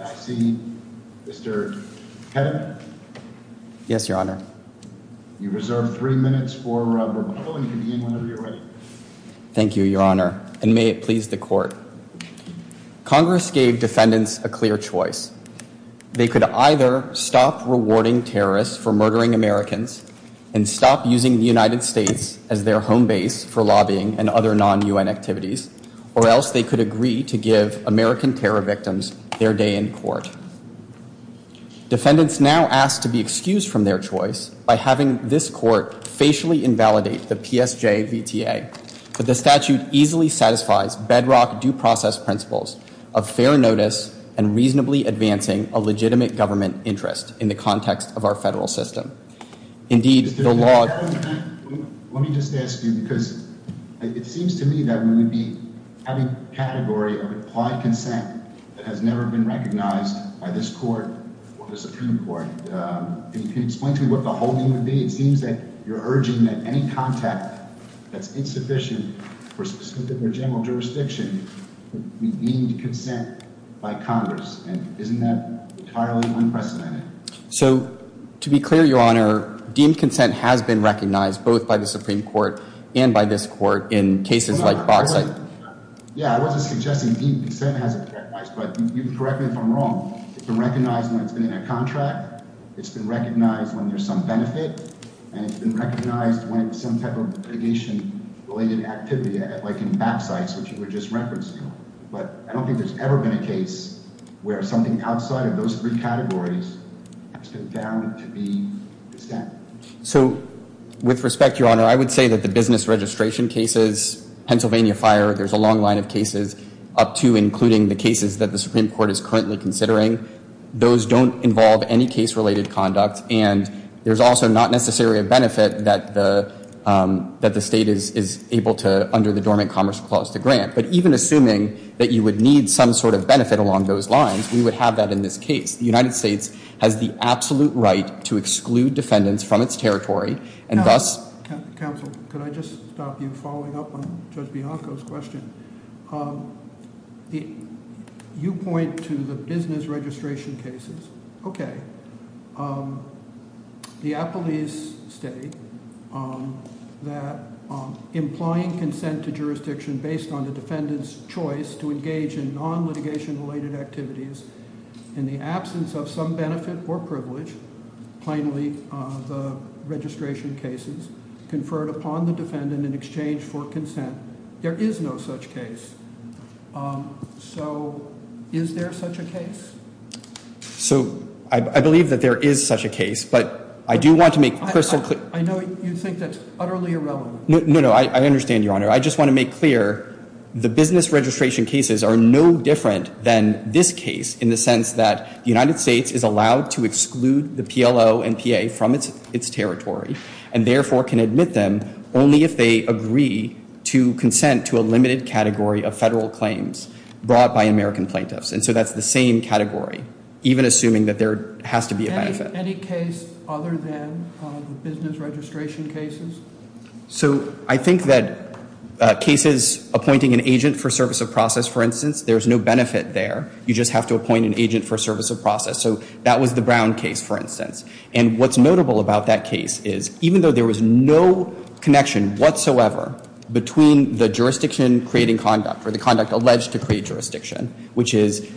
I see. Mr. Yes, your Honor. Thank you, Your Honor, and may it please the court. Congress gave defendants a clear choice. They could either stop rewarding terrorists for murdering Americans and stop using the United States as their home base for lobbying and other non-UN activities, or else they could agree to give American terror victims their day in court. Defendants now ask to be excused from their choice by having this court facially invalidate the PSJ-VTA, but the statute easily satisfies bedrock due process principles of fair notice and reasonably advancing a legitimate government interest in the context of our federal system. Indeed, the law— Let me just ask you, because it seems to me that we would be having a category of implied consent that has never been recognized by this court or the Supreme Court. Can you explain to me what the whole thing would be? It seems that you're urging that any contact that's So, to be clear, your Honor, deemed consent has been recognized both by the Supreme Court and by this court in cases like BAPSites. Yeah, I wasn't suggesting deemed consent hasn't been recognized, but you can correct me if I'm wrong. It's been recognized when it's been in a contract, it's been recognized when there's some benefit, and it's been recognized when it's some type of litigation-related activity, like in BAPSites, which you were just referencing. But I don't think there's ever been a case where something outside of those three categories has been downed to be consent. So, with respect, your Honor, I would say that the business registration cases, Pennsylvania Fire, there's a long line of cases up to, including the cases that the Supreme Court is currently considering. Those don't involve any case-related conduct, and there's also not necessarily a benefit that the state is able to, under the Dormant Commerce Clause, to grant. But even assuming that you would need some sort of benefit along those lines, we would have that in this case. The United States has the absolute right to exclude defendants from its territory, and thus... Counsel, could I just stop you following up on Judge Bianco's question? You point to the business registration cases. Okay. The Appellee's State, that implying consent to jurisdiction based on the defendant's choice to engage in non-litigation-related activities in the absence of some benefit or privilege, plainly the registration cases, conferred upon the defendant in exchange for consent. There is no such case. So, is there such a case? So, I believe that there is such a case, but I do want to make crystal clear... I know you think that's utterly irrelevant. No, no, I understand, Your Honor. I just want to make clear the business registration cases are no different than this case in the sense that the United States is allowed to exclude the PLO and PA from its territory, and therefore can admit them only if they agree to consent to a limited category of federal claims brought by American plaintiffs. And so that's the same category, even assuming that there has to be a benefit. Any case other than the business registration cases? So, I think that cases appointing an agent for service of process, for instance, there's no benefit there. You just have to appoint an agent for service of process. So, that was the Brown case, for instance. And what's notable about that case is, even though there was no connection whatsoever between the jurisdiction creating conduct or the conduct alleged to create jurisdiction, which is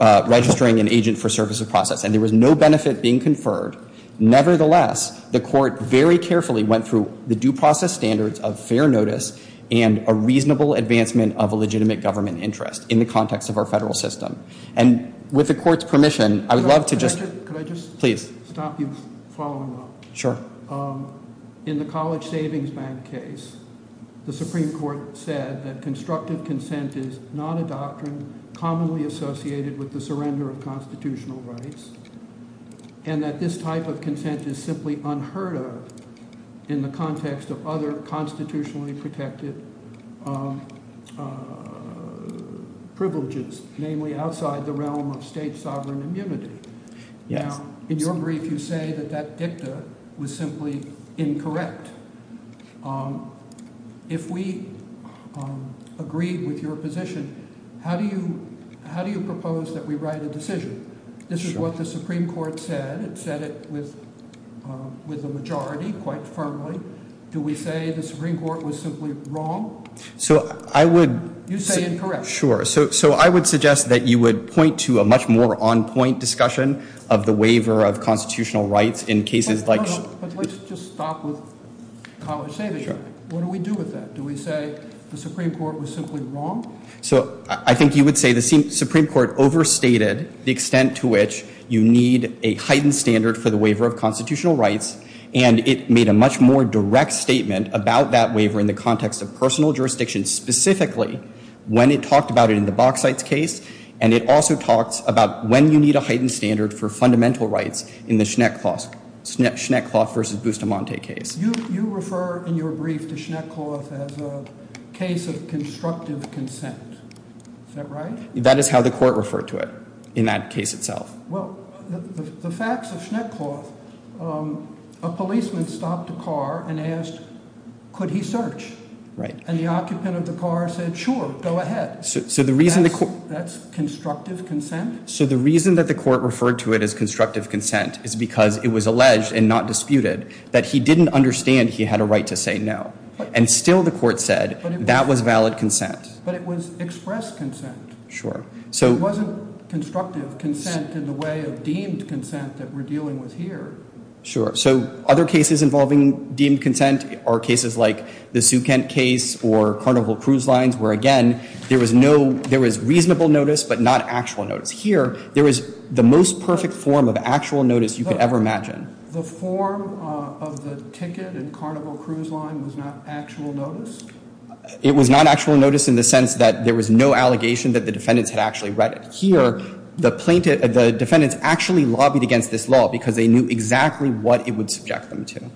registering an agent for service of process, and there was no benefit being conferred, nevertheless, the Court very carefully went through the due process standards of fair notice and a reasonable advancement of a legitimate government interest in the context of our federal system. And with the Court's permission, I would love to just... Could I just... Please. Stop you following up. Sure. In the College Savings Bank case, the Supreme Court said that constructive consent is not a doctrine commonly associated with the surrender of constitutional rights, and that this type of consent is simply unheard of in the context of other constitutionally protected privileges, namely outside the realm of state sovereign immunity. Yes. Now, in your brief, you say that that dicta was simply incorrect. If we agreed with your position, how do you propose that we write a decision? This is what the Supreme Court said. It said it with a majority quite firmly. Do we say the Supreme Court was simply wrong? So I would... You say incorrect. Sure. So I would suggest that you would point to a much more on-point discussion of the waiver of constitutional rights in cases like... But let's just stop with College Savings Bank. What do we do with that? Do we say the Supreme Court was simply wrong? So I think you would say the Supreme Court overstated the extent to which you need a heightened standard for the waiver of constitutional rights, and it made a much more direct statement about that waiver in the context of personal jurisdiction specifically when it talked about it in the Bauxites case, and it also talks about when you need a heightened standard for fundamental rights in the Schneckloth v. Bustamante case. You refer in your brief to Schneckloth as a case of constructive consent. Is that right? That is how the court referred to it in that case itself. Well, the facts of Schneckloth, a policeman stopped a car and asked, could he search? And the occupant of the car said, sure, go ahead. So the reason... That's constructive consent? So the reason that the court referred to it as constructive consent is because it was to say no. And still the court said that was valid consent. But it was expressed consent. Sure. It wasn't constructive consent in the way of deemed consent that we're dealing with here. Sure. So other cases involving deemed consent are cases like the Sukent case or Carnival Cruise Lines where, again, there was reasonable notice but not actual notice. Here, there was the most perfect form of actual notice you could ever imagine. And the form of the ticket in Carnival Cruise Line was not actual notice? It was not actual notice in the sense that there was no allegation that the defendants had actually read it. Here, the plaintiff, the defendants actually lobbied against this law because they knew exactly what it would subject them to.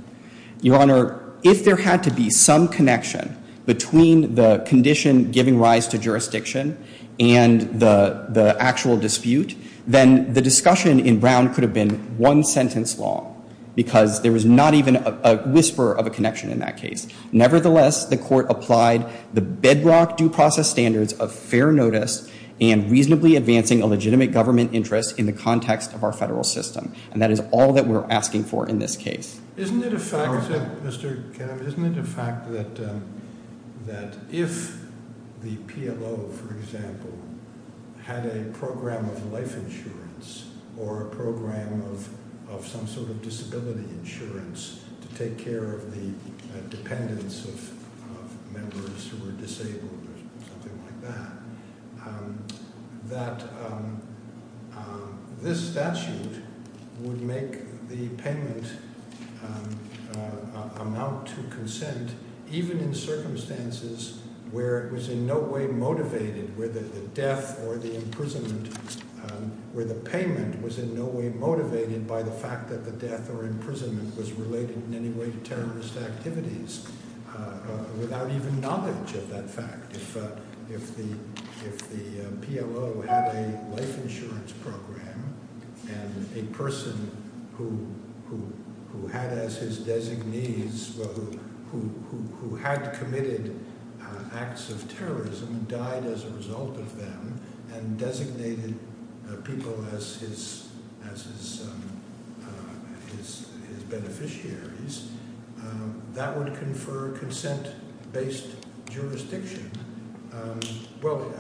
Your Honor, if there had to be some connection between the condition giving rise to jurisdiction and the actual dispute, then the discussion in Brown could have been one sentence long because there was not even a whisper of a connection in that case. Nevertheless, the court applied the bedrock due process standards of fair notice and reasonably advancing a legitimate government interest in the context of our federal system. And that is all that we're asking for in this case. Isn't it a fact, Mr. Kennedy, isn't it a fact that if the PLO, for example, had a program of life insurance or a program of some sort of disability insurance to take care of the dependents of members who were disabled or something like that, that this statute would make the payment amount to consent even in circumstances where it was in no way motivated, where the death or the imprisonment, where the payment was in no way motivated by the fact that the death or imprisonment was related in any way to terrorist activities without even knowledge of that fact? If the PLO had a life insurance program and a person who had as his designees, who had committed acts of terrorism and died as a result of them and designated people as his Well,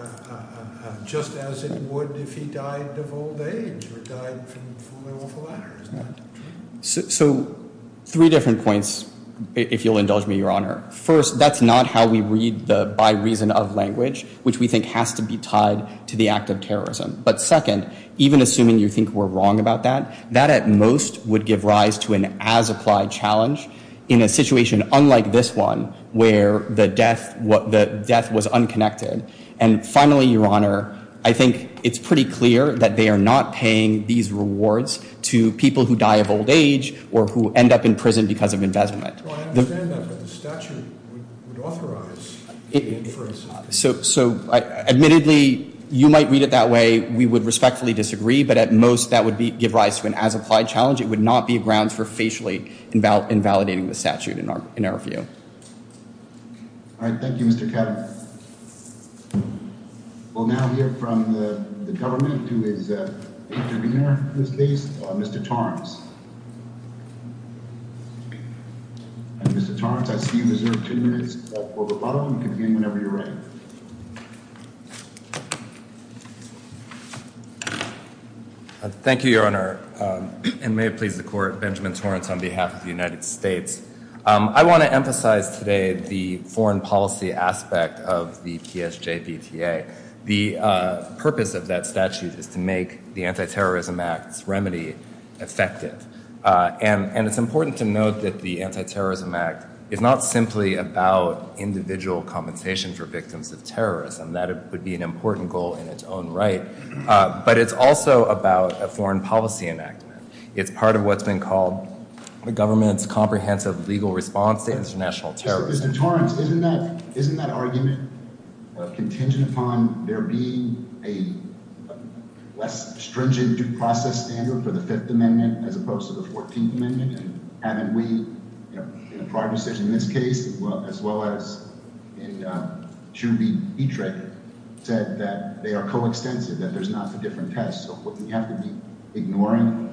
just as it would if he died of old age or died from a fall off a ladder, isn't that true? So three different points, if you'll indulge me, Your Honor. First, that's not how we read the by reason of language, which we think has to be tied to the act of terrorism. But second, even assuming you think we're wrong about that, that at most would give rise to an as-applied challenge in a situation unlike this one, where the death was unconnected. And finally, Your Honor, I think it's pretty clear that they are not paying these rewards to people who die of old age or who end up in prison because of embezzlement. I understand that, but the statute would authorize the inference. So admittedly, you might read it that way. We would respectfully disagree. But at most, that would give rise to an as-applied challenge. It would not be grounds for facially invalidating the statute in our view. All right. Thank you, Mr. Ketterer. We'll now hear from the government, who is the intervener in this case, Mr. Torrance. Mr. Torrance, I see you reserve two minutes for rebuttal. You can begin whenever you're ready. Thank you, Your Honor. And may it please the Court, Benjamin Torrance on behalf of the United States. I want to emphasize today the foreign policy aspect of the PSJBTA. The purpose of that statute is to make the Antiterrorism Act's remedy effective. And it's important to note that the Antiterrorism Act is not simply about individual compensation for victims of terrorism. That would be an important goal in its own right. But it's also about a foreign policy enactment. It's part of what's been called the government's comprehensive legal response to international terrorism. Mr. Torrance, isn't that argument contingent upon there being a less stringent due process standard for the Fifth Amendment as opposed to the Fourteenth Amendment? And haven't we, in a prior decision in this case, as well as in Chu B. Biedriger, said that they are coextensive, that there's not a different test. So wouldn't you have to be ignoring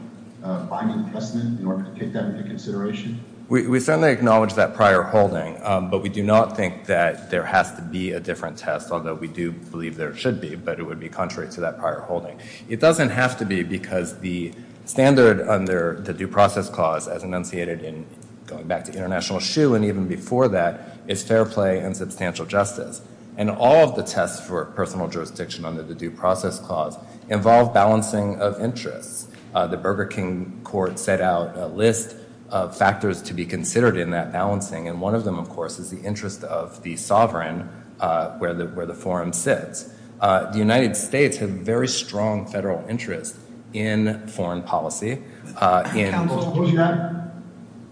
binding precedent in order to take that into consideration? We certainly acknowledge that prior holding. But we do not think that there has to be a different test, although we do believe there should be. But it would be contrary to that prior holding. It doesn't have to be because the standard under the due process clause, as enunciated in going back to International Shoe and even before that, is fair play and substantial justice. And all of the tests for personal jurisdiction under the due process clause involve balancing of interests. The Burger King Court set out a list of factors to be considered in that balancing, and one of them, of course, is the interest of the sovereign where the forum sits. The United States has very strong federal interest in foreign policy. Counsel, do you mean that?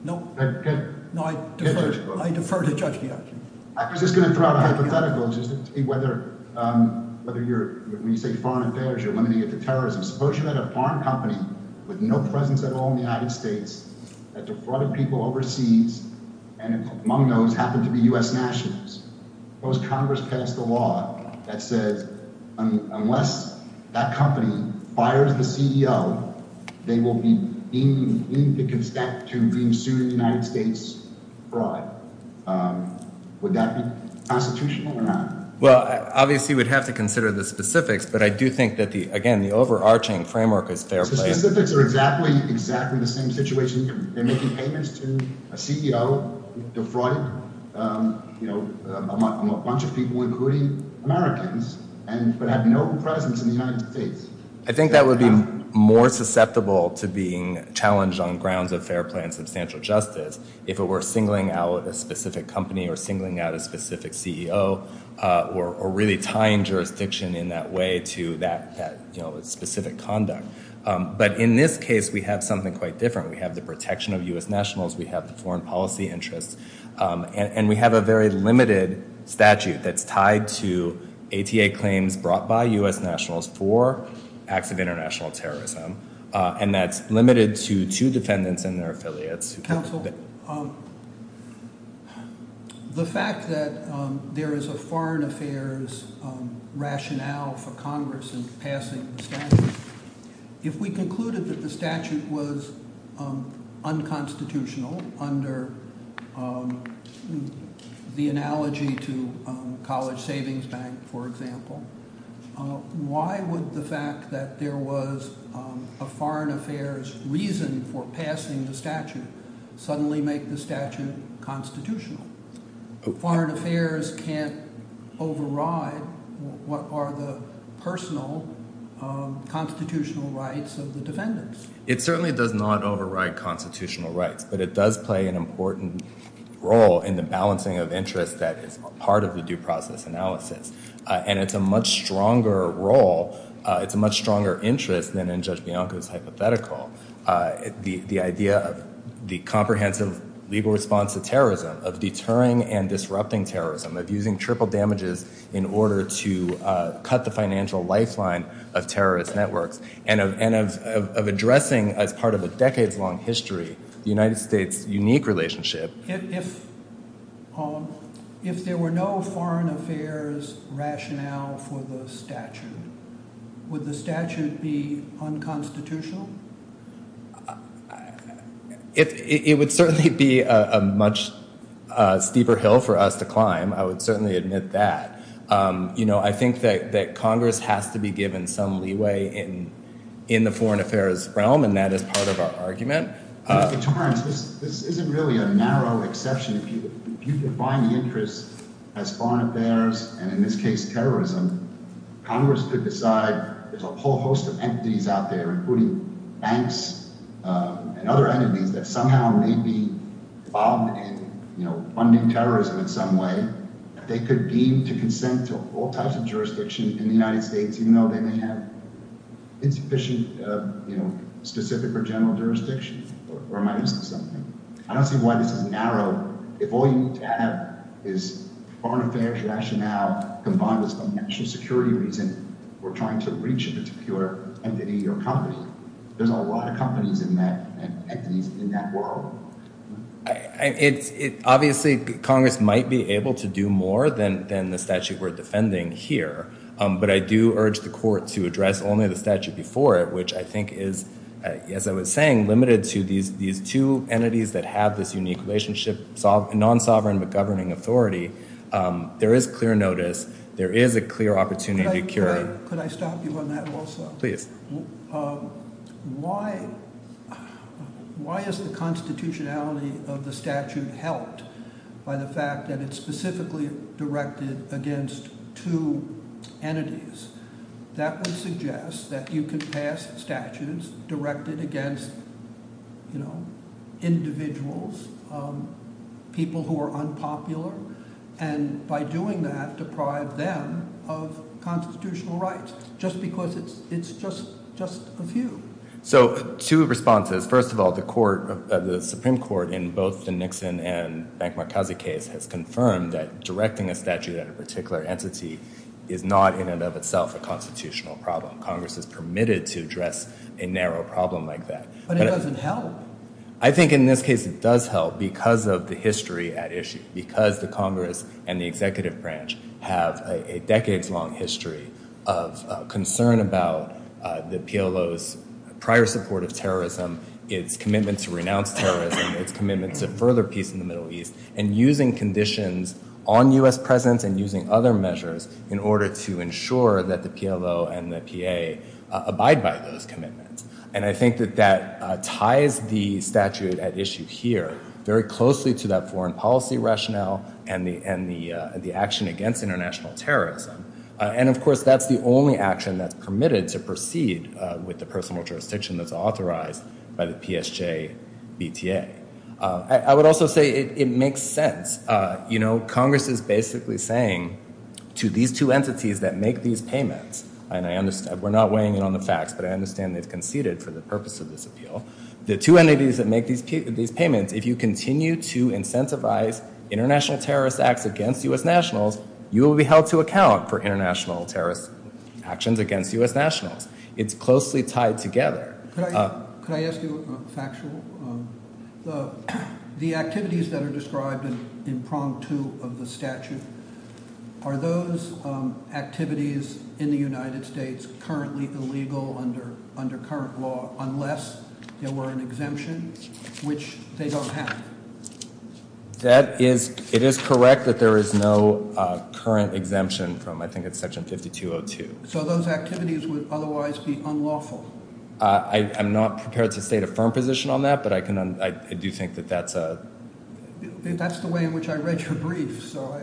No. Okay. No, I defer to Judge Giacchino. I was just going to throw out a hypothetical, whether you're, when you say foreign affairs, you're limiting it to terrorism. Suppose you had a foreign company with no presence at all in the United States that defrauded people overseas, and among those happened to be U.S. nationals. Suppose Congress passed a law that says unless that company fires the CEO, they will be deemed to consent to being sued in the United States for fraud. Would that be constitutional or not? Well, obviously we'd have to consider the specifics, but I do think that, again, the overarching framework is fair play. The specifics are exactly the same situation. They're making payments to a CEO, defrauding a bunch of people, including Americans, but have no presence in the United States. I think that would be more susceptible to being challenged on grounds of fair play and substantial justice if it were singling out a specific company or singling out a specific CEO or really tying jurisdiction in that way to that specific conduct. But in this case, we have something quite different. We have the protection of U.S. nationals. We have the foreign policy interests, and we have a very limited statute that's tied to ATA claims brought by U.S. nationals for acts of international terrorism, and that's limited to two defendants and their affiliates. Counsel, the fact that there is a foreign affairs rationale for Congress in passing the statute, if we concluded that the statute was unconstitutional under the analogy to College Savings Bank, for example, why would the fact that there was a foreign affairs reason for passing the statute suddenly make the statute constitutional? Foreign affairs can't override what are the personal constitutional rights of the defendants. It certainly does not override constitutional rights, but it does play an important role in the balancing of interests that is part of the due process analysis, and it's a much stronger role, it's a much stronger interest than in Judge Bianco's hypothetical. The idea of the comprehensive legal response to terrorism, of deterring and disrupting terrorism, of using triple damages in order to cut the financial lifeline of terrorist networks, and of addressing as part of a decades-long history the United States' unique relationship. If there were no foreign affairs rationale for the statute, would the statute be unconstitutional? It would certainly be a much steeper hill for us to climb, I would certainly admit that. I think that Congress has to be given some leeway in the foreign affairs realm, and that is part of our argument. Mr. Torrence, this isn't really a narrow exception. If you define the interest as foreign affairs, and in this case terrorism, Congress could decide there's a whole host of entities out there, including banks and other entities, that somehow may be involved in funding terrorism in some way. They could deem to consent to all types of jurisdiction in the United States, even though they may have insufficient specific or general jurisdiction. I don't see why this is narrow. If all you need to have is foreign affairs rationale combined with some national security reason, we're trying to reach a particular entity or company. There's a lot of companies and entities in that world. Obviously, Congress might be able to do more than the statute we're defending here, but I do urge the court to address only the statute before it, which I think is, as I was saying, limited to these two entities that have this unique relationship, non-sovereign but governing authority. There is clear notice. There is a clear opportunity to cure it. Could I stop you on that also? Please. Why is the constitutionality of the statute helped by the fact that it's specifically directed against two entities? That would suggest that you could pass statutes directed against individuals, people who are unpopular, and by doing that, deprive them of constitutional rights just because it's just a few. So two responses. First of all, the Supreme Court in both the Nixon and Bank Marcazzi case has confirmed that directing a statute at a particular entity is not in and of itself a constitutional problem. Congress is permitted to address a narrow problem like that. But it doesn't help. I think in this case it does help because of the history at issue, because the Congress and the executive branch have a decades-long history of concern about the PLO's prior support of terrorism, its commitment to renounce terrorism, its commitment to further peace in the Middle East, and using conditions on U.S. presence and using other measures in order to ensure that the PLO and the PA abide by those commitments. And I think that that ties the statute at issue here very closely to that foreign policy rationale and the action against international terrorism. And, of course, that's the only action that's permitted to proceed with the personal jurisdiction that's authorized by the PSJ-BTA. I would also say it makes sense. Congress is basically saying to these two entities that make these payments, and we're not weighing in on the facts, but I understand they've conceded for the purpose of this appeal. The two entities that make these payments, if you continue to incentivize international terrorist acts against U.S. nationals, you will be held to account for international terrorist actions against U.S. nationals. It's closely tied together. Could I ask you a factual? The activities that are described in prong two of the statute, are those activities in the United States currently illegal under current law unless there were an exemption, which they don't have? It is correct that there is no current exemption from I think it's section 5202. So those activities would otherwise be unlawful? I'm not prepared to state a firm position on that, but I do think that that's a... That's the way in which I read your brief, so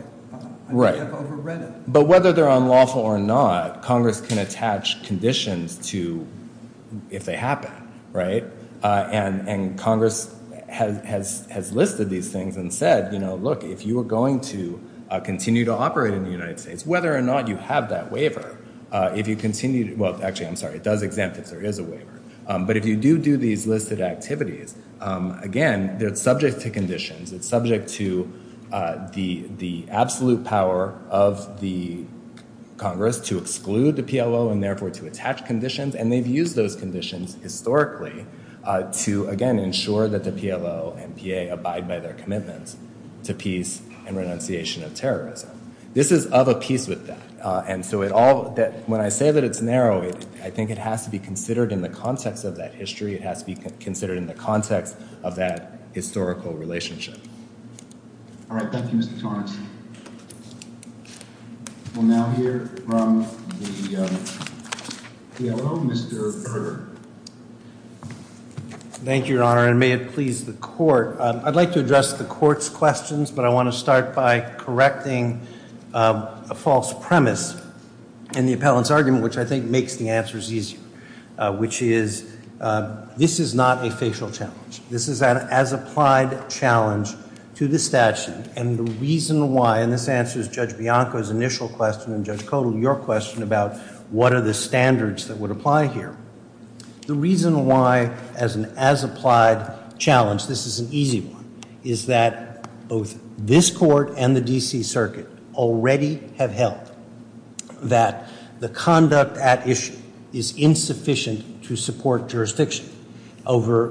I may have overread it. But whether they're unlawful or not, Congress can attach conditions to if they happen. And Congress has listed these things and said, look, if you are going to continue to operate in the United States, whether or not you have that waiver, if you continue to... Well, actually, I'm sorry, it does exempt if there is a waiver. But if you do do these listed activities, again, they're subject to conditions. It's subject to the absolute power of the Congress to exclude the PLO and therefore to attach conditions. And they've used those conditions historically to, again, ensure that the PLO and PA abide by their commitments to peace and renunciation of terrorism. This is of a piece with that. And so when I say that it's narrow, I think it has to be considered in the context of that history. It has to be considered in the context of that historical relationship. All right. Thank you, Mr. Torrance. We'll now hear from the PLO. Mr. Berger. Thank you, Your Honor, and may it please the court. I'd like to address the court's questions, but I want to start by correcting a false premise in the appellant's argument, which I think makes the answers easier, which is this is not a facial challenge. This is an as-applied challenge to the statute, and the reason why, and this answers Judge Bianco's initial question and Judge Kodal your question about what are the standards that would apply here. The reason why, as an as-applied challenge, this is an easy one, is that both this court and the D.C. Circuit already have held that the conduct at issue is insufficient to support jurisdiction over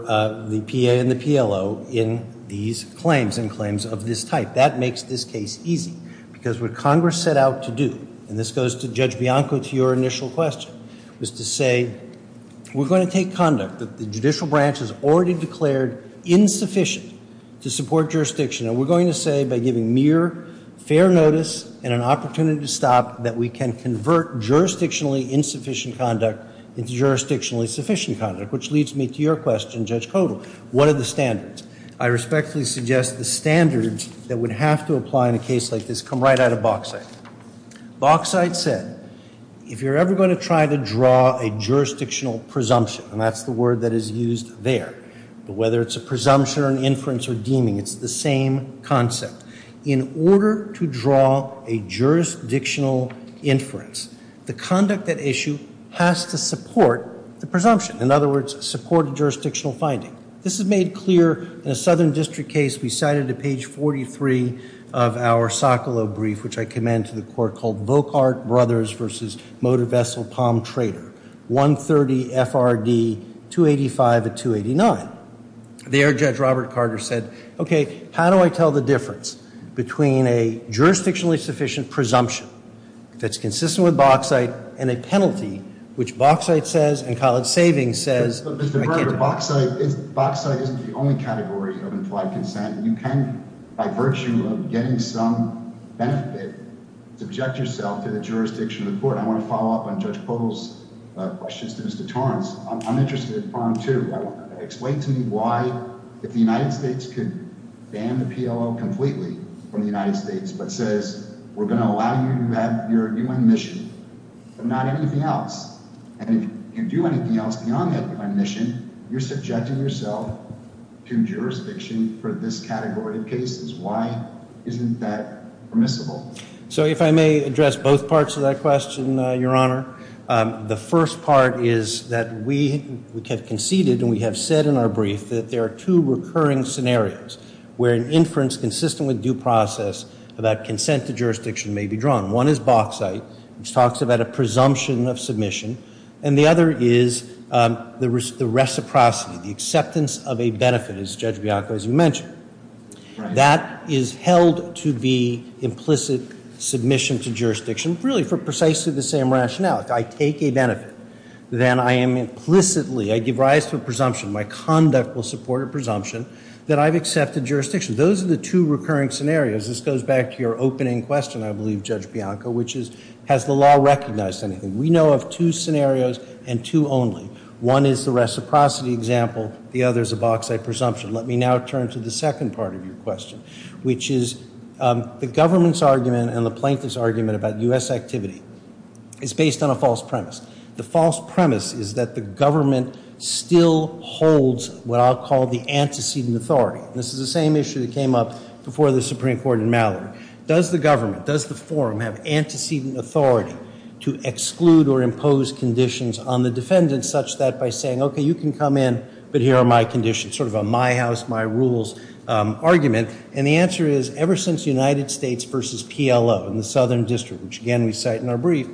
the PA and the PLO in these claims and claims of this type. That makes this case easy because what Congress set out to do, and this goes to Judge Bianco to your initial question, was to say we're going to take conduct that the judicial branch has already declared insufficient to support jurisdiction, and we're going to say by giving mere fair notice and an opportunity to stop that we can convert jurisdictionally insufficient conduct into jurisdictionally sufficient conduct, which leads me to your question, Judge Kodal, what are the standards? I respectfully suggest the standards that would have to apply in a case like this come right out of Bauxite. Bauxite said if you're ever going to try to draw a jurisdictional presumption, and that's the word that is used there, but whether it's a presumption or an inference or deeming, it's the same concept. In order to draw a jurisdictional inference, the conduct at issue has to support the presumption. In other words, support a jurisdictional finding. This is made clear in a Southern District case we cited at page 43 of our Socolow brief, which I commend to the court, called Volkart Brothers v. Motor Vessel Palm Trader, 130 FRD 285 of 289. There, Judge Robert Carter said, okay, how do I tell the difference between a jurisdictionally sufficient presumption that's consistent with Bauxite and a penalty, which Bauxite says and College Savings says. But, Mr. Berger, Bauxite isn't the only category of implied consent. You can, by virtue of getting some benefit, subject yourself to the jurisdiction of the court. I want to follow up on Judge Kodal's questions to Mr. Torrance. I'm interested, too. Explain to me why, if the United States could ban the PLO completely from the United States, but says we're going to allow you to have your UN mission and not anything else, and if you do anything else beyond that UN mission, you're subjecting yourself to jurisdiction for this category of cases. Why isn't that permissible? So if I may address both parts of that question, Your Honor, the first part is that we have conceded and we have said in our brief that there are two recurring scenarios where an inference consistent with due process about consent to jurisdiction may be drawn. One is Bauxite, which talks about a presumption of submission, and the other is the reciprocity, the acceptance of a benefit, as Judge Bianco, as you mentioned. That is held to be implicit submission to jurisdiction, really for precisely the same rationale. If I take a benefit, then I am implicitly, I give rise to a presumption, my conduct will support a presumption that I've accepted jurisdiction. Those are the two recurring scenarios. This goes back to your opening question, I believe, Judge Bianco, which is has the law recognized anything? We know of two scenarios and two only. One is the reciprocity example. The other is a Bauxite presumption. Let me now turn to the second part of your question, which is the government's argument and the plaintiff's argument about U.S. activity is based on a false premise. The false premise is that the government still holds what I'll call the antecedent authority. This is the same issue that came up before the Supreme Court in Mallory. Does the government, does the forum have antecedent authority to exclude or impose conditions on the defendant such that by saying, okay, you can come in, but here are my conditions, sort of a my house, my rules argument? And the answer is ever since the United States versus PLO in the Southern District, which, again, we cite in our brief,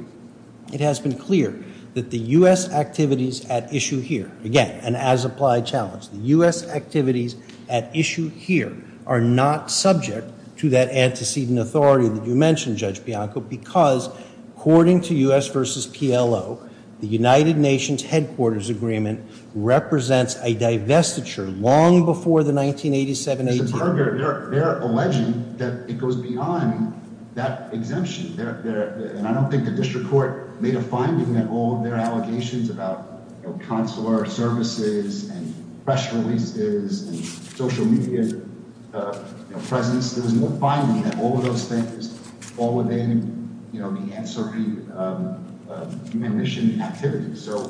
it has been clear that the U.S. activities at issue here, again, an as-applied challenge, the U.S. activities at issue here are not subject to that antecedent authority that you mentioned, Judge Bianco, because according to U.S. versus PLO, the United Nations Headquarters Agreement represents a divestiture long before the 1987-18. They're alleging that it goes beyond that exemption, and I don't think the district court made a finding in all of their allegations about consular services and press releases and social media presence. There was no finding that all of those things fall within the answering commission activities. So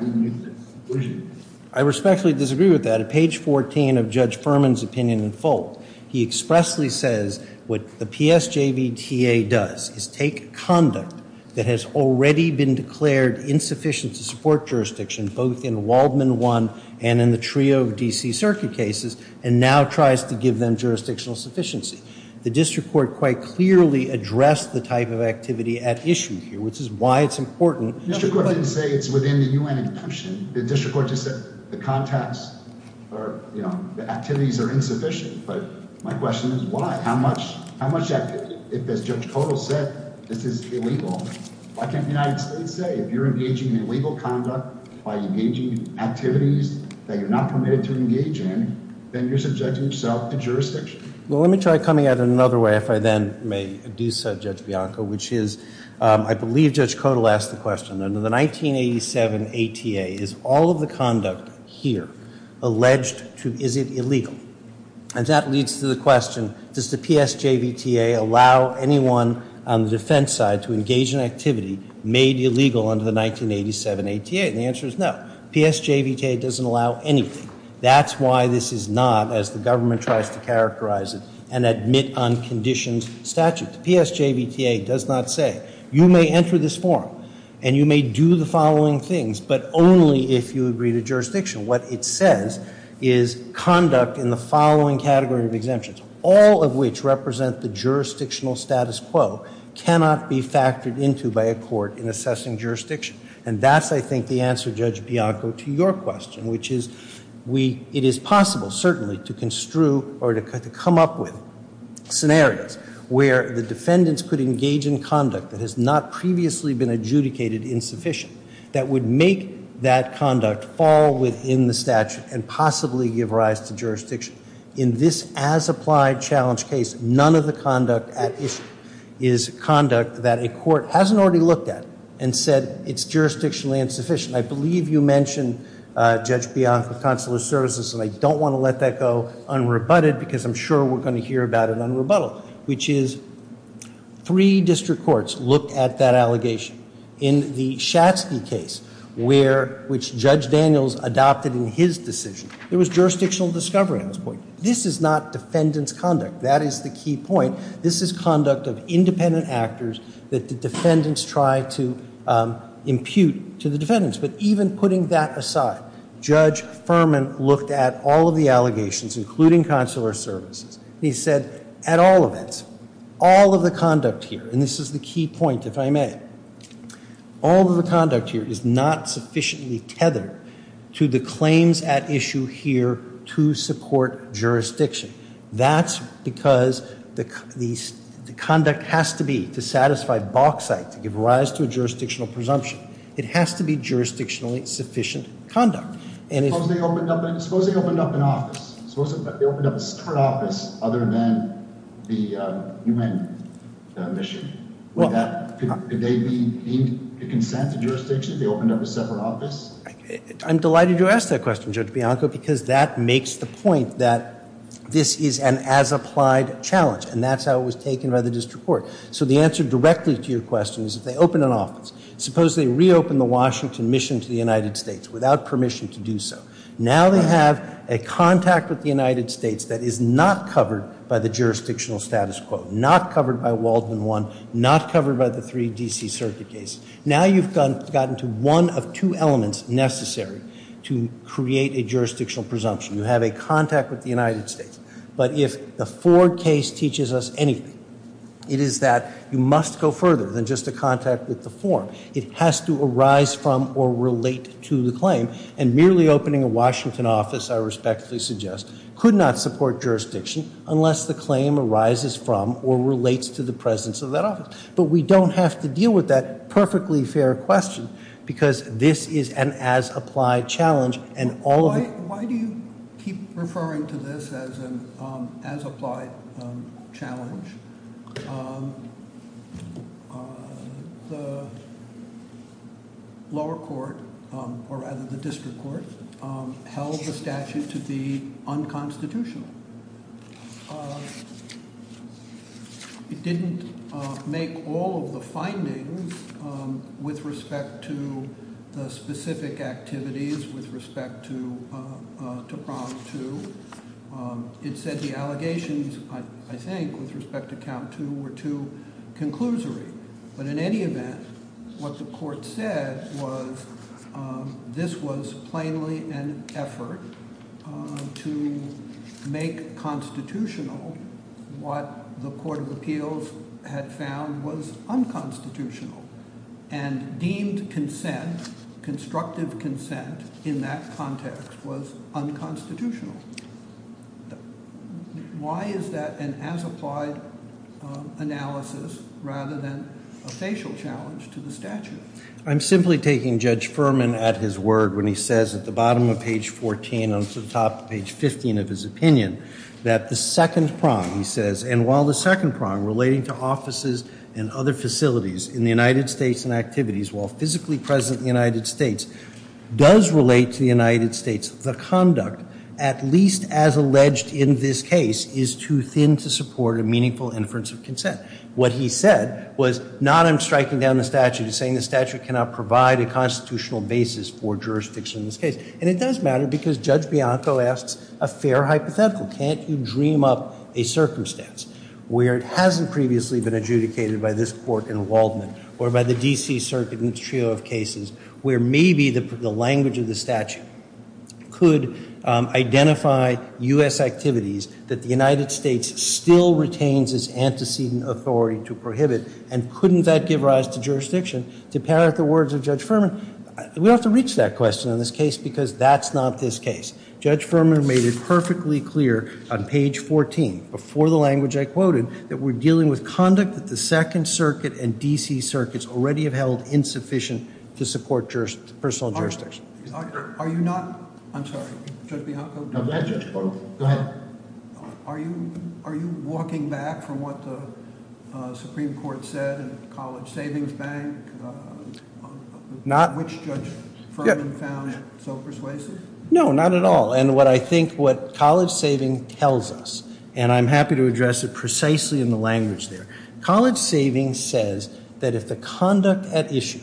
we need the conclusion. I respectfully disagree with that. At page 14 of Judge Furman's opinion in full, he expressly says what the PSJVTA does is take conduct that has already been declared insufficient to support jurisdiction both in Waldman 1 and in the trio of D.C. circuit cases and now tries to give them jurisdictional sufficiency. The district court quite clearly addressed the type of activity at issue here, which is why it's important. The district court didn't say it's within the U.N. exemption. The district court just said the context or, you know, the activities are insufficient. But my question is why? How much activity? If, as Judge Kodal said, this is illegal, why can't the United States say if you're engaging in illegal conduct by engaging in activities that you're not permitted to engage in, then you're subjecting yourself to jurisdiction? Well, let me try coming at it another way, if I then may do so, Judge Bianco, which is I believe Judge Kodal asked the question, under the 1987 ATA is all of the conduct here alleged to, is it illegal? And that leads to the question, does the PSJVTA allow anyone on the defense side to engage in activity made illegal under the 1987 ATA? And the answer is no. PSJVTA doesn't allow anything. That's why this is not, as the government tries to characterize it, an admit unconditioned statute. PSJVTA does not say you may enter this form and you may do the following things, but only if you agree to jurisdiction. What it says is conduct in the following category of exemptions, all of which represent the jurisdictional status quo, cannot be factored into by a court in assessing jurisdiction. And that's, I think, the answer, Judge Bianco, to your question, which is it is possible certainly to construe or to come up with scenarios where the defendants could engage in conduct that has not previously been adjudicated insufficient that would make that conduct fall within the statute and possibly give rise to jurisdiction. In this as-applied challenge case, none of the conduct at issue is conduct that a court hasn't already looked at and said it's jurisdictionally insufficient. I believe you mentioned, Judge Bianco, consular services, and I don't want to let that go unrebutted because I'm sure we're going to hear about it on rebuttal, which is three district courts looked at that allegation. In the Schatzky case, which Judge Daniels adopted in his decision, there was jurisdictional discovery at this point. This is not defendant's conduct. That is the key point. This is conduct of independent actors that the defendants try to impute to the defendants. But even putting that aside, Judge Furman looked at all of the allegations, including consular services, and he said at all events, all of the conduct here, and this is the key point, if I may, all of the conduct here is not sufficiently tethered to the claims at issue here to support jurisdiction. That's because the conduct has to be to satisfy bauxite, to give rise to a jurisdictional presumption. It has to be jurisdictionally sufficient conduct. Suppose they opened up an office. Suppose they opened up a separate office other than the UN mission. Could they be deemed to consent to jurisdiction if they opened up a separate office? I'm delighted you asked that question, Judge Bianco, because that makes the point that this is an as-applied challenge, and that's how it was taken by the district court. Suppose they reopened the Washington mission to the United States without permission to do so. Now they have a contact with the United States that is not covered by the jurisdictional status quo, not covered by Waldman 1, not covered by the 3 D.C. Circuit case. Now you've gotten to one of two elements necessary to create a jurisdictional presumption. You have a contact with the United States. But if the Ford case teaches us anything, it is that you must go further than just a contact with the form. It has to arise from or relate to the claim. And merely opening a Washington office, I respectfully suggest, could not support jurisdiction unless the claim arises from or relates to the presence of that office. But we don't have to deal with that perfectly fair question because this is an as-applied challenge. And all of- Why do you keep referring to this as an as-applied challenge? The lower court, or rather the district court, held the statute to be unconstitutional. It didn't make all of the findings with respect to the specific activities, with respect to Prompt 2. It said the allegations, I think, with respect to Count 2 were too conclusory. But in any event, what the court said was this was plainly an effort to make constitutional what the Court of Appeals had found was unconstitutional. And deemed consent, constructive consent, in that context was unconstitutional. Why is that an as-applied analysis rather than a facial challenge to the statute? I'm simply taking Judge Furman at his word when he says at the bottom of page 14 and to the top of page 15 of his opinion that the second prong, he says, and while the second prong relating to offices and other facilities in the United States and activities while physically present in the United States does relate to the United States, the conduct, at least as alleged in this case, is too thin to support a meaningful inference of consent. What he said was not I'm striking down the statute. He's saying the statute cannot provide a constitutional basis for jurisdiction in this case. And it does matter because Judge Bianco asks a fair hypothetical. Can't you dream up a circumstance where it hasn't previously been adjudicated by this court in Waldman or by the D.C. Circuit in its trio of cases where maybe the language of the statute could identify U.S. activities that the United States still retains as antecedent authority to prohibit and couldn't that give rise to jurisdiction to parrot the words of Judge Furman? We have to reach that question in this case because that's not this case. Judge Furman made it perfectly clear on page 14, before the language I quoted, that we're dealing with conduct that the Second Circuit and D.C. Circuits already have held insufficient to support personal jurisdiction. Are you not, I'm sorry, Judge Bianco, are you walking back from what the Supreme Court said in the College Savings Bank? Not. Which Judge Furman found so persuasive? No, not at all. And what I think what College Savings tells us, and I'm happy to address it precisely in the language there, College Savings says that if the conduct at issue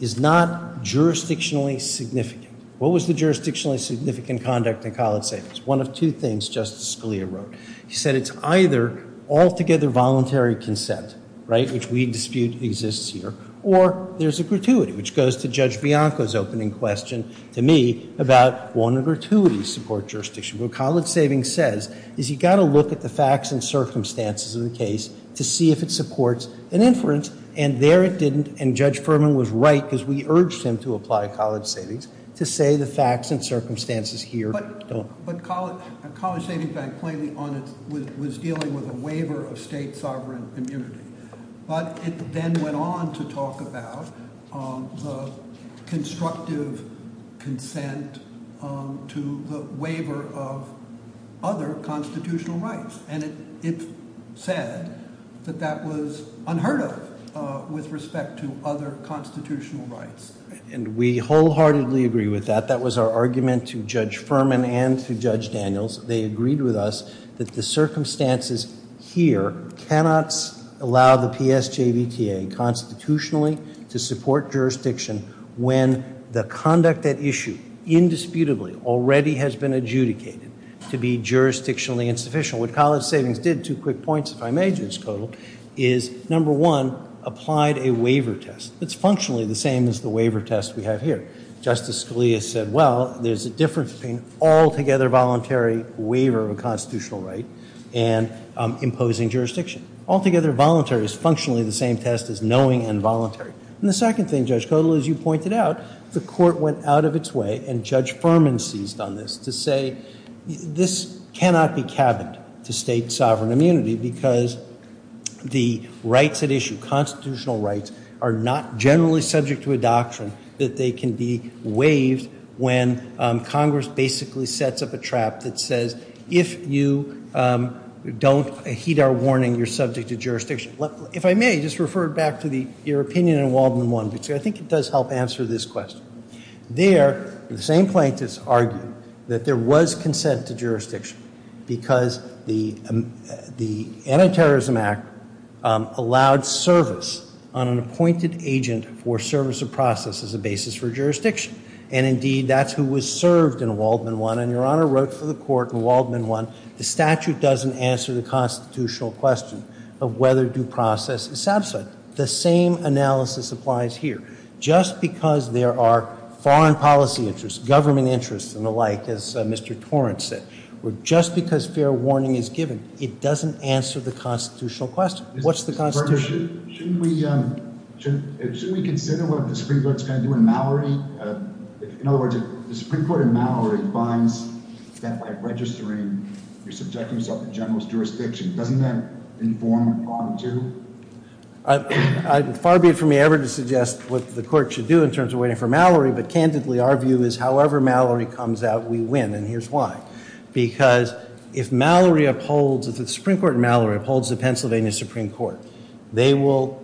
is not jurisdictionally significant, what was the jurisdictionally significant conduct in College Savings? One of two things Justice Scalia wrote. He said it's either altogether voluntary consent, right, which we dispute exists here, or there's a gratuity, which goes to Judge Bianco's opening question to me about, won't a gratuity support jurisdiction? What College Savings says is you've got to look at the facts and circumstances of the case to see if it supports an inference, and there it didn't, and Judge Furman was right, because we urged him to apply College Savings, to say the facts and circumstances here don't. But College Savings Bank plainly was dealing with a waiver of state sovereign immunity. But it then went on to talk about the constructive consent to the waiver of other constitutional rights, and it said that that was unheard of with respect to other constitutional rights. And we wholeheartedly agree with that. That was our argument to Judge Furman and to Judge Daniels. They agreed with us that the circumstances here cannot allow the PSJBTA constitutionally to support jurisdiction when the conduct at issue, indisputably, already has been adjudicated to be jurisdictionally insufficient. What College Savings did, two quick points if I may, Judge Kotel, is number one, applied a waiver test. It's functionally the same as the waiver test we have here. Justice Scalia said, well, there's a difference between altogether voluntary waiver of a constitutional right and imposing jurisdiction. Altogether voluntary is functionally the same test as knowing and voluntary. And the second thing, Judge Kotel, as you pointed out, the court went out of its way and Judge Furman seized on this to say this cannot be cabined to state sovereign immunity because the rights at issue, constitutional rights, are not generally subject to a doctrine that they can be waived when Congress basically sets up a trap that says, if you don't heed our warning, you're subject to jurisdiction. If I may, just refer back to your opinion in Walden 1, which I think it does help answer this question. There, the same plaintiffs argued that there was consent to jurisdiction because the Antiterrorism Act allowed service on an appointed agent for service of process as a basis for jurisdiction. And indeed, that's who was served in Walden 1. And Your Honor wrote for the court in Walden 1, the statute doesn't answer the constitutional question of whether due process is satisfied. The same analysis applies here. Just because there are foreign policy interests, government interests and the like, as Mr. Torrance said, or just because fair warning is given, it doesn't answer the constitutional question. What's the constitution? Shouldn't we consider what the Supreme Court's going to do in Mallory? In other words, if the Supreme Court in Mallory finds that by registering, you're subjecting yourself to generalist jurisdiction, doesn't that inform Walden 2? Far be it from me ever to suggest what the court should do in terms of waiting for Mallory, but candidly, our view is however Mallory comes out, we win. And here's why. Because if Mallory upholds, if the Supreme Court in Mallory upholds the Pennsylvania Supreme Court, they will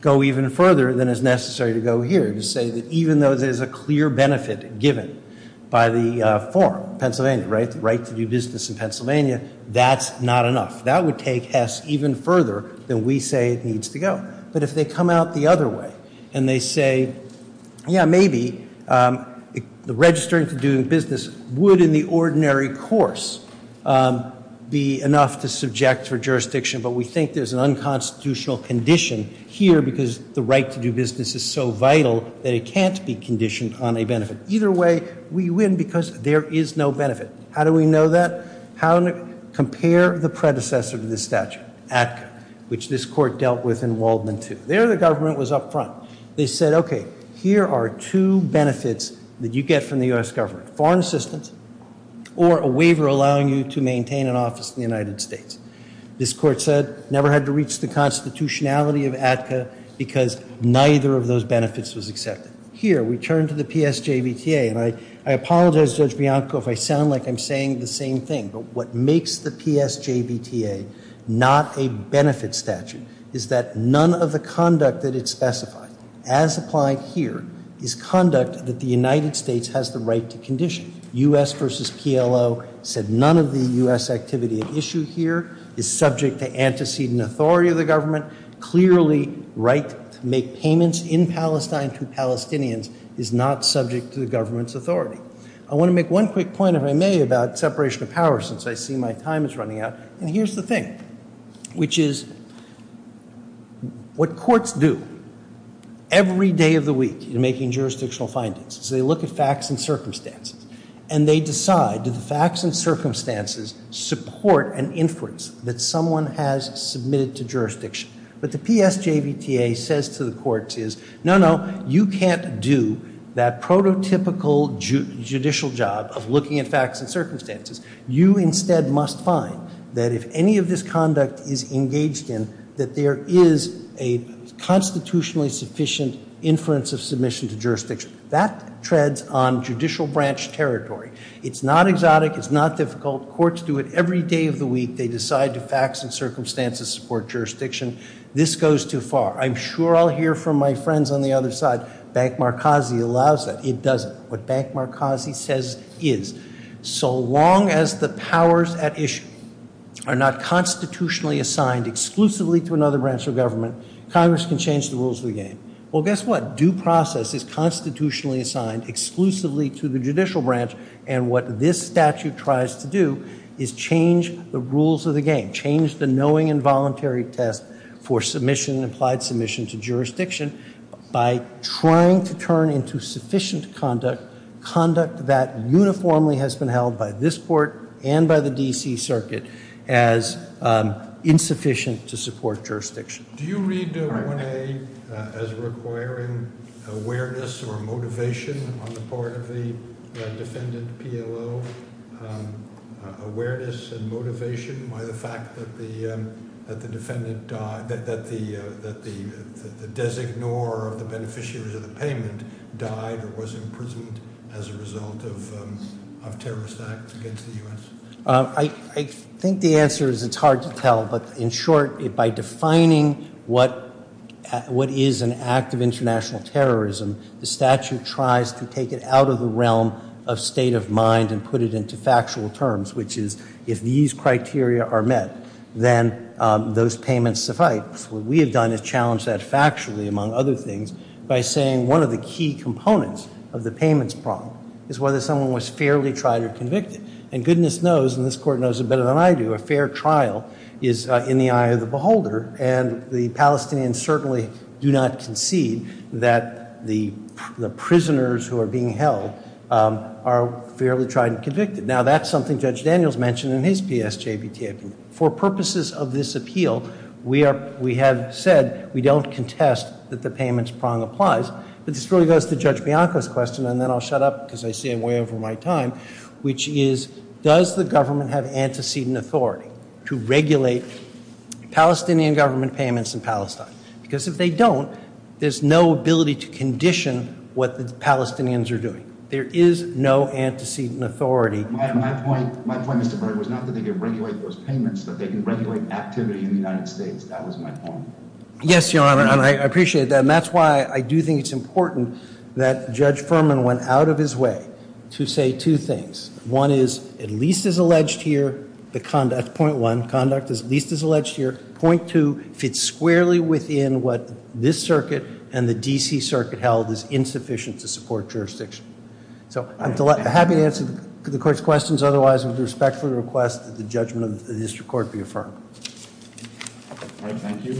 go even further than is necessary to go here to say that even though there's a clear benefit given by the form, Pennsylvania, right, the right to do business in Pennsylvania, that's not enough. That would take Hess even further than we say it needs to go. But if they come out the other way and they say, yeah, maybe the registering to do business would in the ordinary course be enough to subject for jurisdiction. But we think there's an unconstitutional condition here because the right to do business is so vital that it can't be conditioned on a benefit. Either way, we win because there is no benefit. How do we know that? Compare the predecessor to this statute, ATCA, which this court dealt with in Waldman, too. There the government was up front. They said, okay, here are two benefits that you get from the U.S. government, foreign assistance or a waiver allowing you to maintain an office in the United States. This court said never had to reach the constitutionality of ATCA because neither of those benefits was accepted. Here we turn to the PSJBTA. And I apologize, Judge Bianco, if I sound like I'm saying the same thing. But what makes the PSJBTA not a benefit statute is that none of the conduct that it specifies, as applied here, is conduct that the United States has the right to condition. U.S. versus PLO said none of the U.S. activity at issue here is subject to antecedent authority of the government, clearly right to make payments in Palestine to Palestinians is not subject to the government's authority. I want to make one quick point, if I may, about separation of power since I see my time is running out. And here's the thing, which is what courts do every day of the week in making jurisdictional findings, is they look at facts and circumstances. And they decide, do the facts and circumstances support an inference that someone has submitted to jurisdiction? But the PSJBTA says to the courts is, no, no, you can't do that prototypical judicial job of looking at facts and circumstances. You instead must find that if any of this conduct is engaged in, that there is a constitutionally sufficient inference of submission to jurisdiction. That treads on judicial branch territory. It's not exotic. It's not difficult. Courts do it every day of the week. They decide do facts and circumstances support jurisdiction. This goes too far. I'm sure I'll hear from my friends on the other side, Bank Markazi allows that. It doesn't. What Bank Markazi says is, so long as the powers at issue are not constitutionally assigned exclusively to another branch of government, Congress can change the rules of the game. Well, guess what? Due process is constitutionally assigned exclusively to the judicial branch. And what this statute tries to do is change the rules of the game, change the knowing involuntary test for submission, implied submission to jurisdiction, by trying to turn into sufficient conduct, conduct that uniformly has been held by this court and by the D.C. Circuit, as insufficient to support jurisdiction. Do you read 1A as requiring awareness or motivation on the part of the defendant PLO? Awareness and motivation by the fact that the defendant died, that the designor of the beneficiaries of the payment died or was imprisoned as a result of terrorist acts against the U.S.? I think the answer is it's hard to tell, but in short, by defining what is an act of international terrorism, the statute tries to take it out of the realm of state of mind and put it into factual terms, which is if these criteria are met, then those payments suffice. What we have done is challenged that factually, among other things, by saying one of the key components of the payments problem is whether someone was fairly tried or convicted. And goodness knows, and this court knows it better than I do, a fair trial is in the eye of the beholder, and the Palestinians certainly do not concede that the prisoners who are being held are fairly tried and convicted. Now, that's something Judge Daniels mentioned in his PSJB taping. For purposes of this appeal, we have said we don't contest that the payments prong applies, but this really goes to Judge Bianco's question, and then I'll shut up because I say I'm way over my time, which is does the government have antecedent authority to regulate Palestinian government payments in Palestine? Because if they don't, there's no ability to condition what the Palestinians are doing. There is no antecedent authority. My point, Mr. Berger, was not that they could regulate those payments, but they can regulate activity in the United States. That was my point. Yes, Your Honor, and I appreciate that. And that's why I do think it's important that Judge Furman went out of his way to say two things. One is, at least as alleged here, the conduct, point one, conduct at least as alleged here, point two, fits squarely within what this circuit and the D.C. circuit held is insufficient to support jurisdiction. So I'm happy to answer the court's questions. Otherwise, I would respectfully request that the judgment of the district court be affirmed. All right, thank you.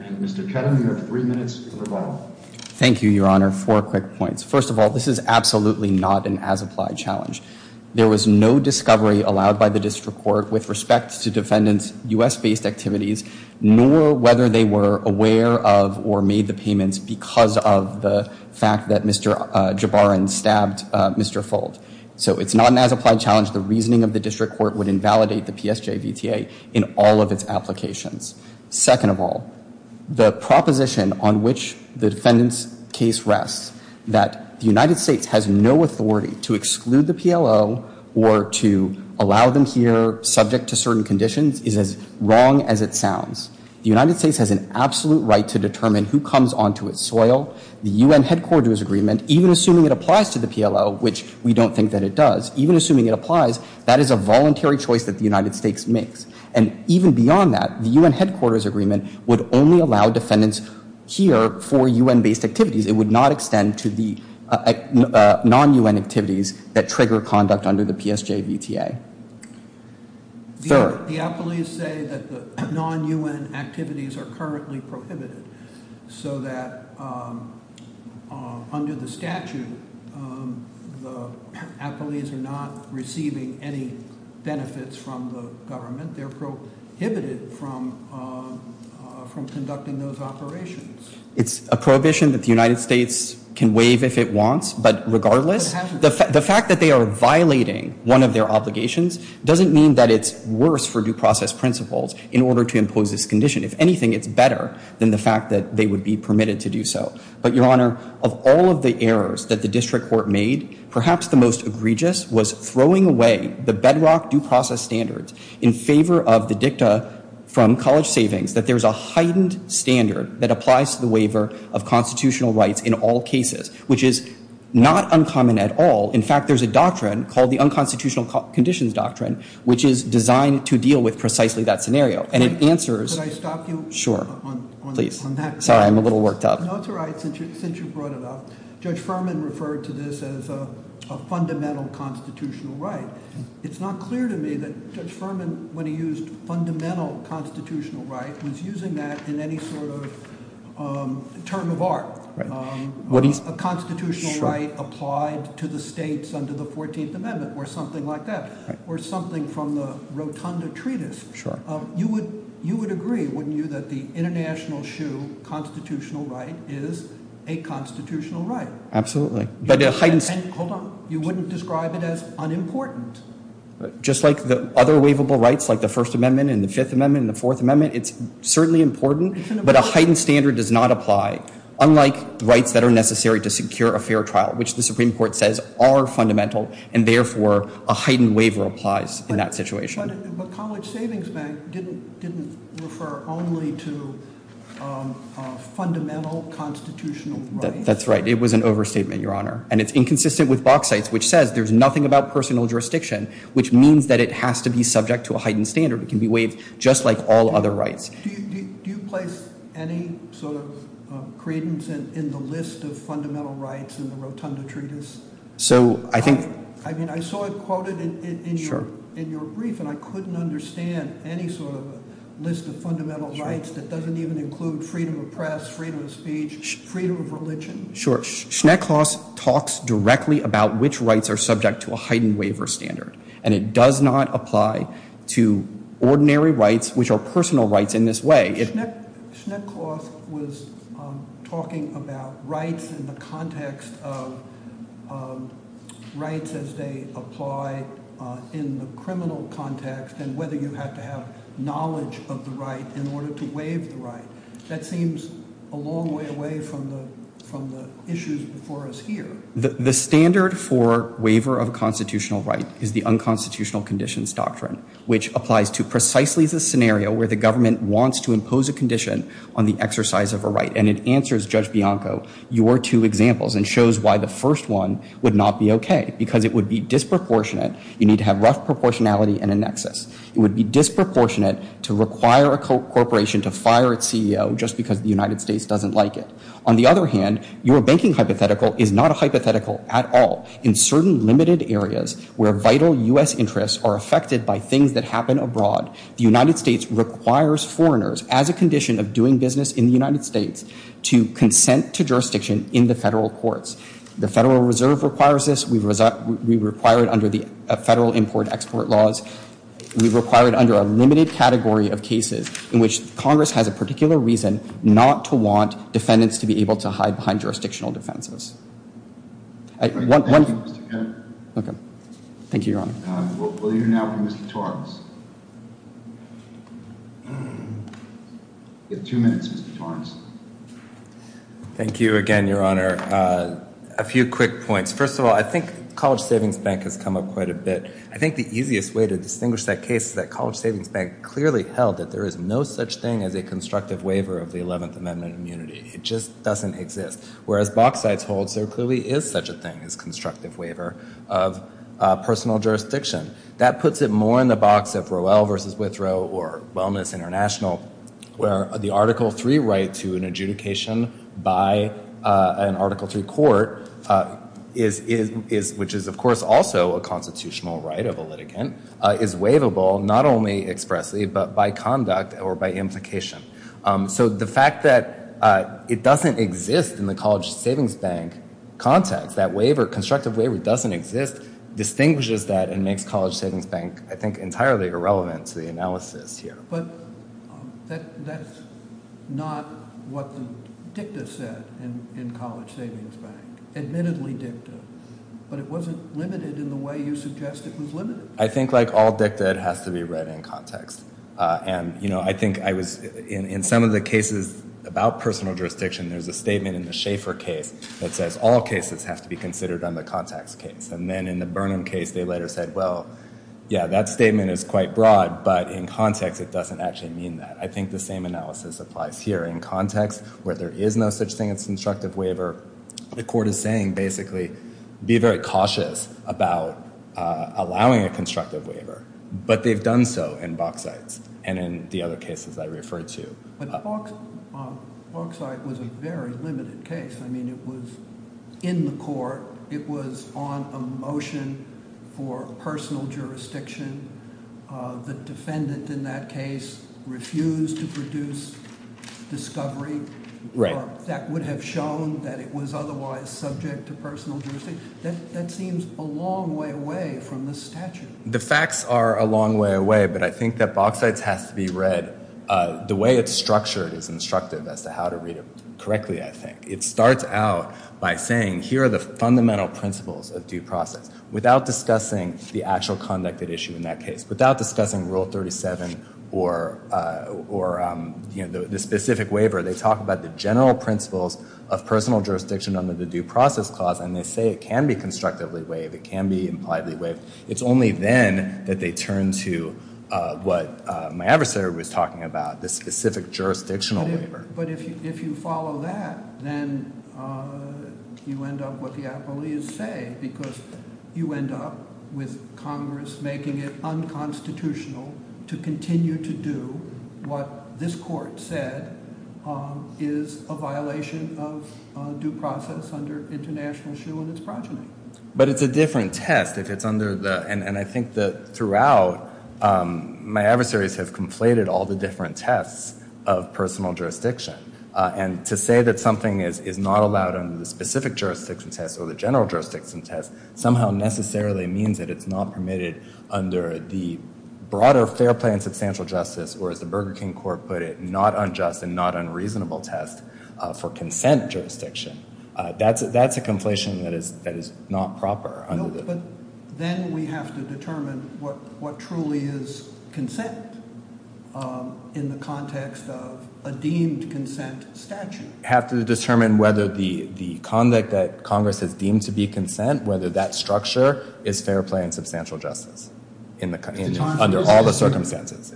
And Mr. Ketam, you have three minutes to rebuttal. Thank you, Your Honor. Four quick points. First of all, this is absolutely not an as-applied challenge. There was no discovery allowed by the district court with respect to defendants' U.S.-based activities, nor whether they were aware of or made the payments because of the fact that Mr. Jabarin stabbed Mr. Fold. So it's not an as-applied challenge. The reasoning of the district court would invalidate the PSJVTA in all of its applications. Second of all, the proposition on which the defendant's case rests, that the United States has no authority to exclude the PLO or to allow them here subject to certain conditions, is as wrong as it sounds. The United States has an absolute right to determine who comes onto its soil. The U.N. headquarters agreement, even assuming it applies to the PLO, which we don't think that it does, even assuming it applies, that is a voluntary choice that the United States makes. And even beyond that, the U.N. headquarters agreement would only allow defendants here for U.N.-based activities. It would not extend to the non-U.N. activities that trigger conduct under the PSJVTA. Third. The appellees say that the non-U.N. activities are currently prohibited, so that under the statute the appellees are not receiving any benefits from the government. They're prohibited from conducting those operations. It's a prohibition that the United States can waive if it wants. But regardless, the fact that they are violating one of their obligations doesn't mean that it's worse for due process principles in order to impose this condition. If anything, it's better than the fact that they would be permitted to do so. But, Your Honor, of all of the errors that the district court made, perhaps the most egregious was throwing away the bedrock due process standards in favor of the dicta from college savings that there's a heightened standard that applies to the waiver of constitutional rights in all cases, which is not uncommon at all. In fact, there's a doctrine called the Unconstitutional Conditions Doctrine, which is designed to deal with precisely that scenario. And it answers... Could I stop you on that? Sure. Please. Sorry, I'm a little worked up. No, it's all right, since you brought it up. Judge Furman referred to this as a fundamental constitutional right. It's not clear to me that Judge Furman, when he used fundamental constitutional right, was using that in any sort of term of art. A constitutional right applied to the states under the 14th Amendment or something like that, or something from the Rotunda Treatise. You would agree, wouldn't you, that the international shoe constitutional right is a constitutional right? Absolutely. Hold on. You wouldn't describe it as unimportant? Just like the other waivable rights, like the First Amendment and the Fifth Amendment and the Fourth Amendment, it's certainly important, but a heightened standard does not apply, unlike rights that are necessary to secure a fair trial, which the Supreme Court says are fundamental, and therefore a heightened waiver applies in that situation. But College Savings Bank didn't refer only to fundamental constitutional rights? That's right. It was an overstatement, Your Honor, and it's inconsistent with Bauxite's, which says there's nothing about personal jurisdiction, which means that it has to be subject to a heightened standard. It can be waived just like all other rights. Do you place any sort of credence in the list of fundamental rights in the Rotunda Treatise? I mean, I saw it quoted in your brief, and I couldn't understand any sort of list of fundamental rights that doesn't even include freedom of press, freedom of speech, freedom of religion. Sure. Schnecklaus talks directly about which rights are subject to a heightened waiver standard, and it does not apply to ordinary rights, which are personal rights in this way. Schnecklaus was talking about rights in the context of rights as they apply in the criminal context and whether you have to have knowledge of the right in order to waive the right. That seems a long way away from the issues before us here. The standard for waiver of constitutional right is the unconstitutional conditions doctrine, which applies to precisely the scenario where the government wants to impose a condition on the exercise of a right, and it answers, Judge Bianco, your two examples and shows why the first one would not be okay, because it would be disproportionate. You need to have rough proportionality and a nexus. It would be disproportionate to require a corporation to fire its CEO just because the United States doesn't like it. On the other hand, your banking hypothetical is not a hypothetical at all. In certain limited areas where vital U.S. interests are affected by things that happen abroad, the United States requires foreigners, as a condition of doing business in the United States, to consent to jurisdiction in the federal courts. The Federal Reserve requires this. We require it under the federal import-export laws. We require it under a limited category of cases in which Congress has a particular reason not to want defendants to be able to hide behind jurisdictional defenses. Thank you, Mr. Kennedy. Okay. Thank you, Your Honor. We'll hear now from Mr. Torrence. You have two minutes, Mr. Torrence. Thank you again, Your Honor. A few quick points. First of all, I think College Savings Bank has come up quite a bit. I think the easiest way to distinguish that case is that College Savings Bank clearly held that there is no such thing as a constructive waiver of the 11th Amendment immunity. It just doesn't exist. Whereas box sites holds there clearly is such a thing as constructive waiver of personal jurisdiction. That puts it more in the box of Rowell v. Withrow or Wellness International, where the Article III right to an adjudication by an Article III court, which is, of course, also a constitutional right of a litigant, is waivable not only expressly but by conduct or by implication. So the fact that it doesn't exist in the College Savings Bank context, that constructive waiver doesn't exist, distinguishes that and makes College Savings Bank, I think, entirely irrelevant to the analysis here. But that's not what the dicta said in College Savings Bank. Admittedly dicta. But it wasn't limited in the way you suggest it was limited. I think all dicta has to be read in context. And, you know, I think I was in some of the cases about personal jurisdiction, there's a statement in the Schaeffer case that says all cases have to be considered on the context case. And then in the Burnham case, they later said, well, yeah, that statement is quite broad. But in context, it doesn't actually mean that. I think the same analysis applies here. In context where there is no such thing as constructive waiver, the court is saying basically be very cautious about allowing a constructive waiver. But they've done so in Bauxite and in the other cases I referred to. But Bauxite was a very limited case. I mean it was in the court. It was on a motion for personal jurisdiction. The defendant in that case refused to produce discovery. Right. That would have shown that it was otherwise subject to personal jurisdiction. That seems a long way away from the statute. The facts are a long way away, but I think that Bauxite has to be read, the way it's structured is instructive as to how to read it correctly, I think. It starts out by saying here are the fundamental principles of due process, without discussing the actual conduct at issue in that case, without discussing Rule 37 or, you know, the specific waiver. They talk about the general principles of personal jurisdiction under the Due Process Clause, and they say it can be constructively waived. It can be impliedly waived. It's only then that they turn to what my adversary was talking about, the specific jurisdictional waiver. But if you follow that, then you end up with what the appellees say, because you end up with Congress making it unconstitutional to continue to do what this court said is a violation of due process under international shul and its progeny. But it's a different test if it's under the, and I think that throughout, my adversaries have conflated all the different tests of personal jurisdiction. And to say that something is not allowed under the specific jurisdiction test or the general jurisdiction test somehow necessarily means that it's not permitted under the broader fair play and substantial justice, or as the Burger King Court put it, not unjust and not unreasonable test for consent jurisdiction. That's a conflation that is not proper. No, but then we have to determine what truly is consent in the context of a deemed consent statute. We have to determine whether the conduct that Congress has deemed to be consent, whether that structure is fair play and substantial justice under all the circumstances.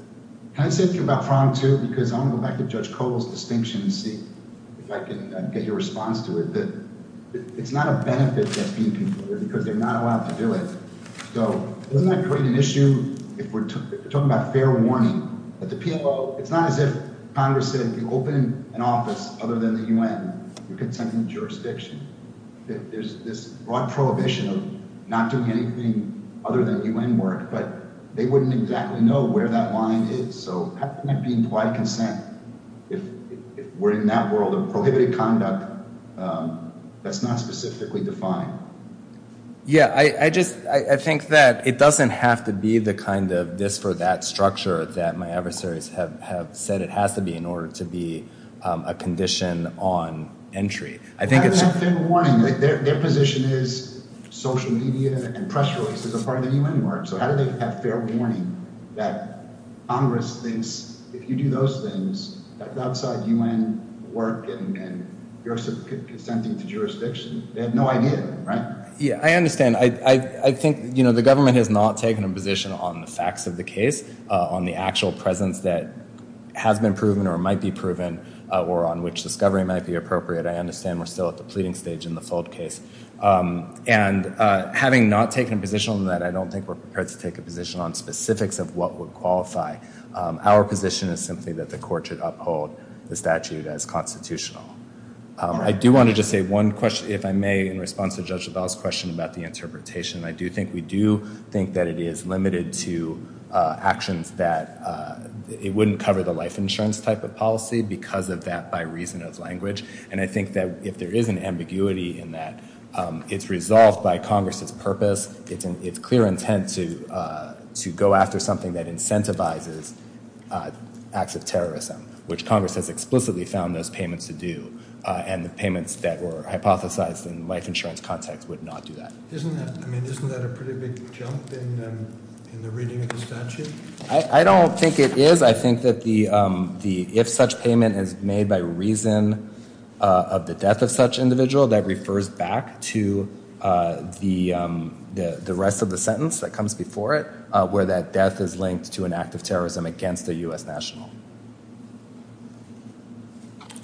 Can I say a few about Frong too? Because I want to go back to Judge Cole's distinction and see if I can get your response to it. It's not a benefit that's being concluded because they're not allowed to do it. So doesn't that create an issue if we're talking about fair warning? At the PLO, it's not as if Congress said if you open an office other than the UN, you're consenting jurisdiction. There's this broad prohibition of not doing anything other than UN work, but they wouldn't exactly know where that line is. So how can it be implied consent if we're in that world of prohibited conduct that's not specifically defined? Yeah, I just think that it doesn't have to be the kind of this-for-that structure that my adversaries have said it has to be in order to be a condition on entry. I think it's fair warning. Their position is social media and press releases are part of the UN work. So how do they have fair warning that Congress thinks if you do those things outside UN work and you're consenting to jurisdiction? They have no idea, right? Yeah, I understand. I think the government has not taken a position on the facts of the case, on the actual presence that has been proven or might be proven or on which discovery might be appropriate. I understand we're still at the pleading stage in the FOLD case. And having not taken a position on that, I don't think we're prepared to take a position on specifics of what would qualify. Our position is simply that the court should uphold the statute as constitutional. I do want to just say one question, if I may, in response to Judge LaValle's question about the interpretation. I do think we do think that it is limited to actions that it wouldn't cover the life insurance type of policy because of that by reason of language. And I think that if there is an ambiguity in that, it's resolved by Congress's purpose. It's clear intent to go after something that incentivizes acts of terrorism, which Congress has explicitly found those payments to do. And the payments that were hypothesized in the life insurance context would not do that. Isn't that a pretty big jump in the reading of the statute? I don't think it is. I think that if such payment is made by reason of the death of such individual, that refers back to the rest of the sentence that comes before it, where that death is linked to an act of terrorism against a U.S. national.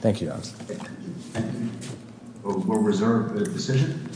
Thank you, Your Honor. We'll reserve the decision.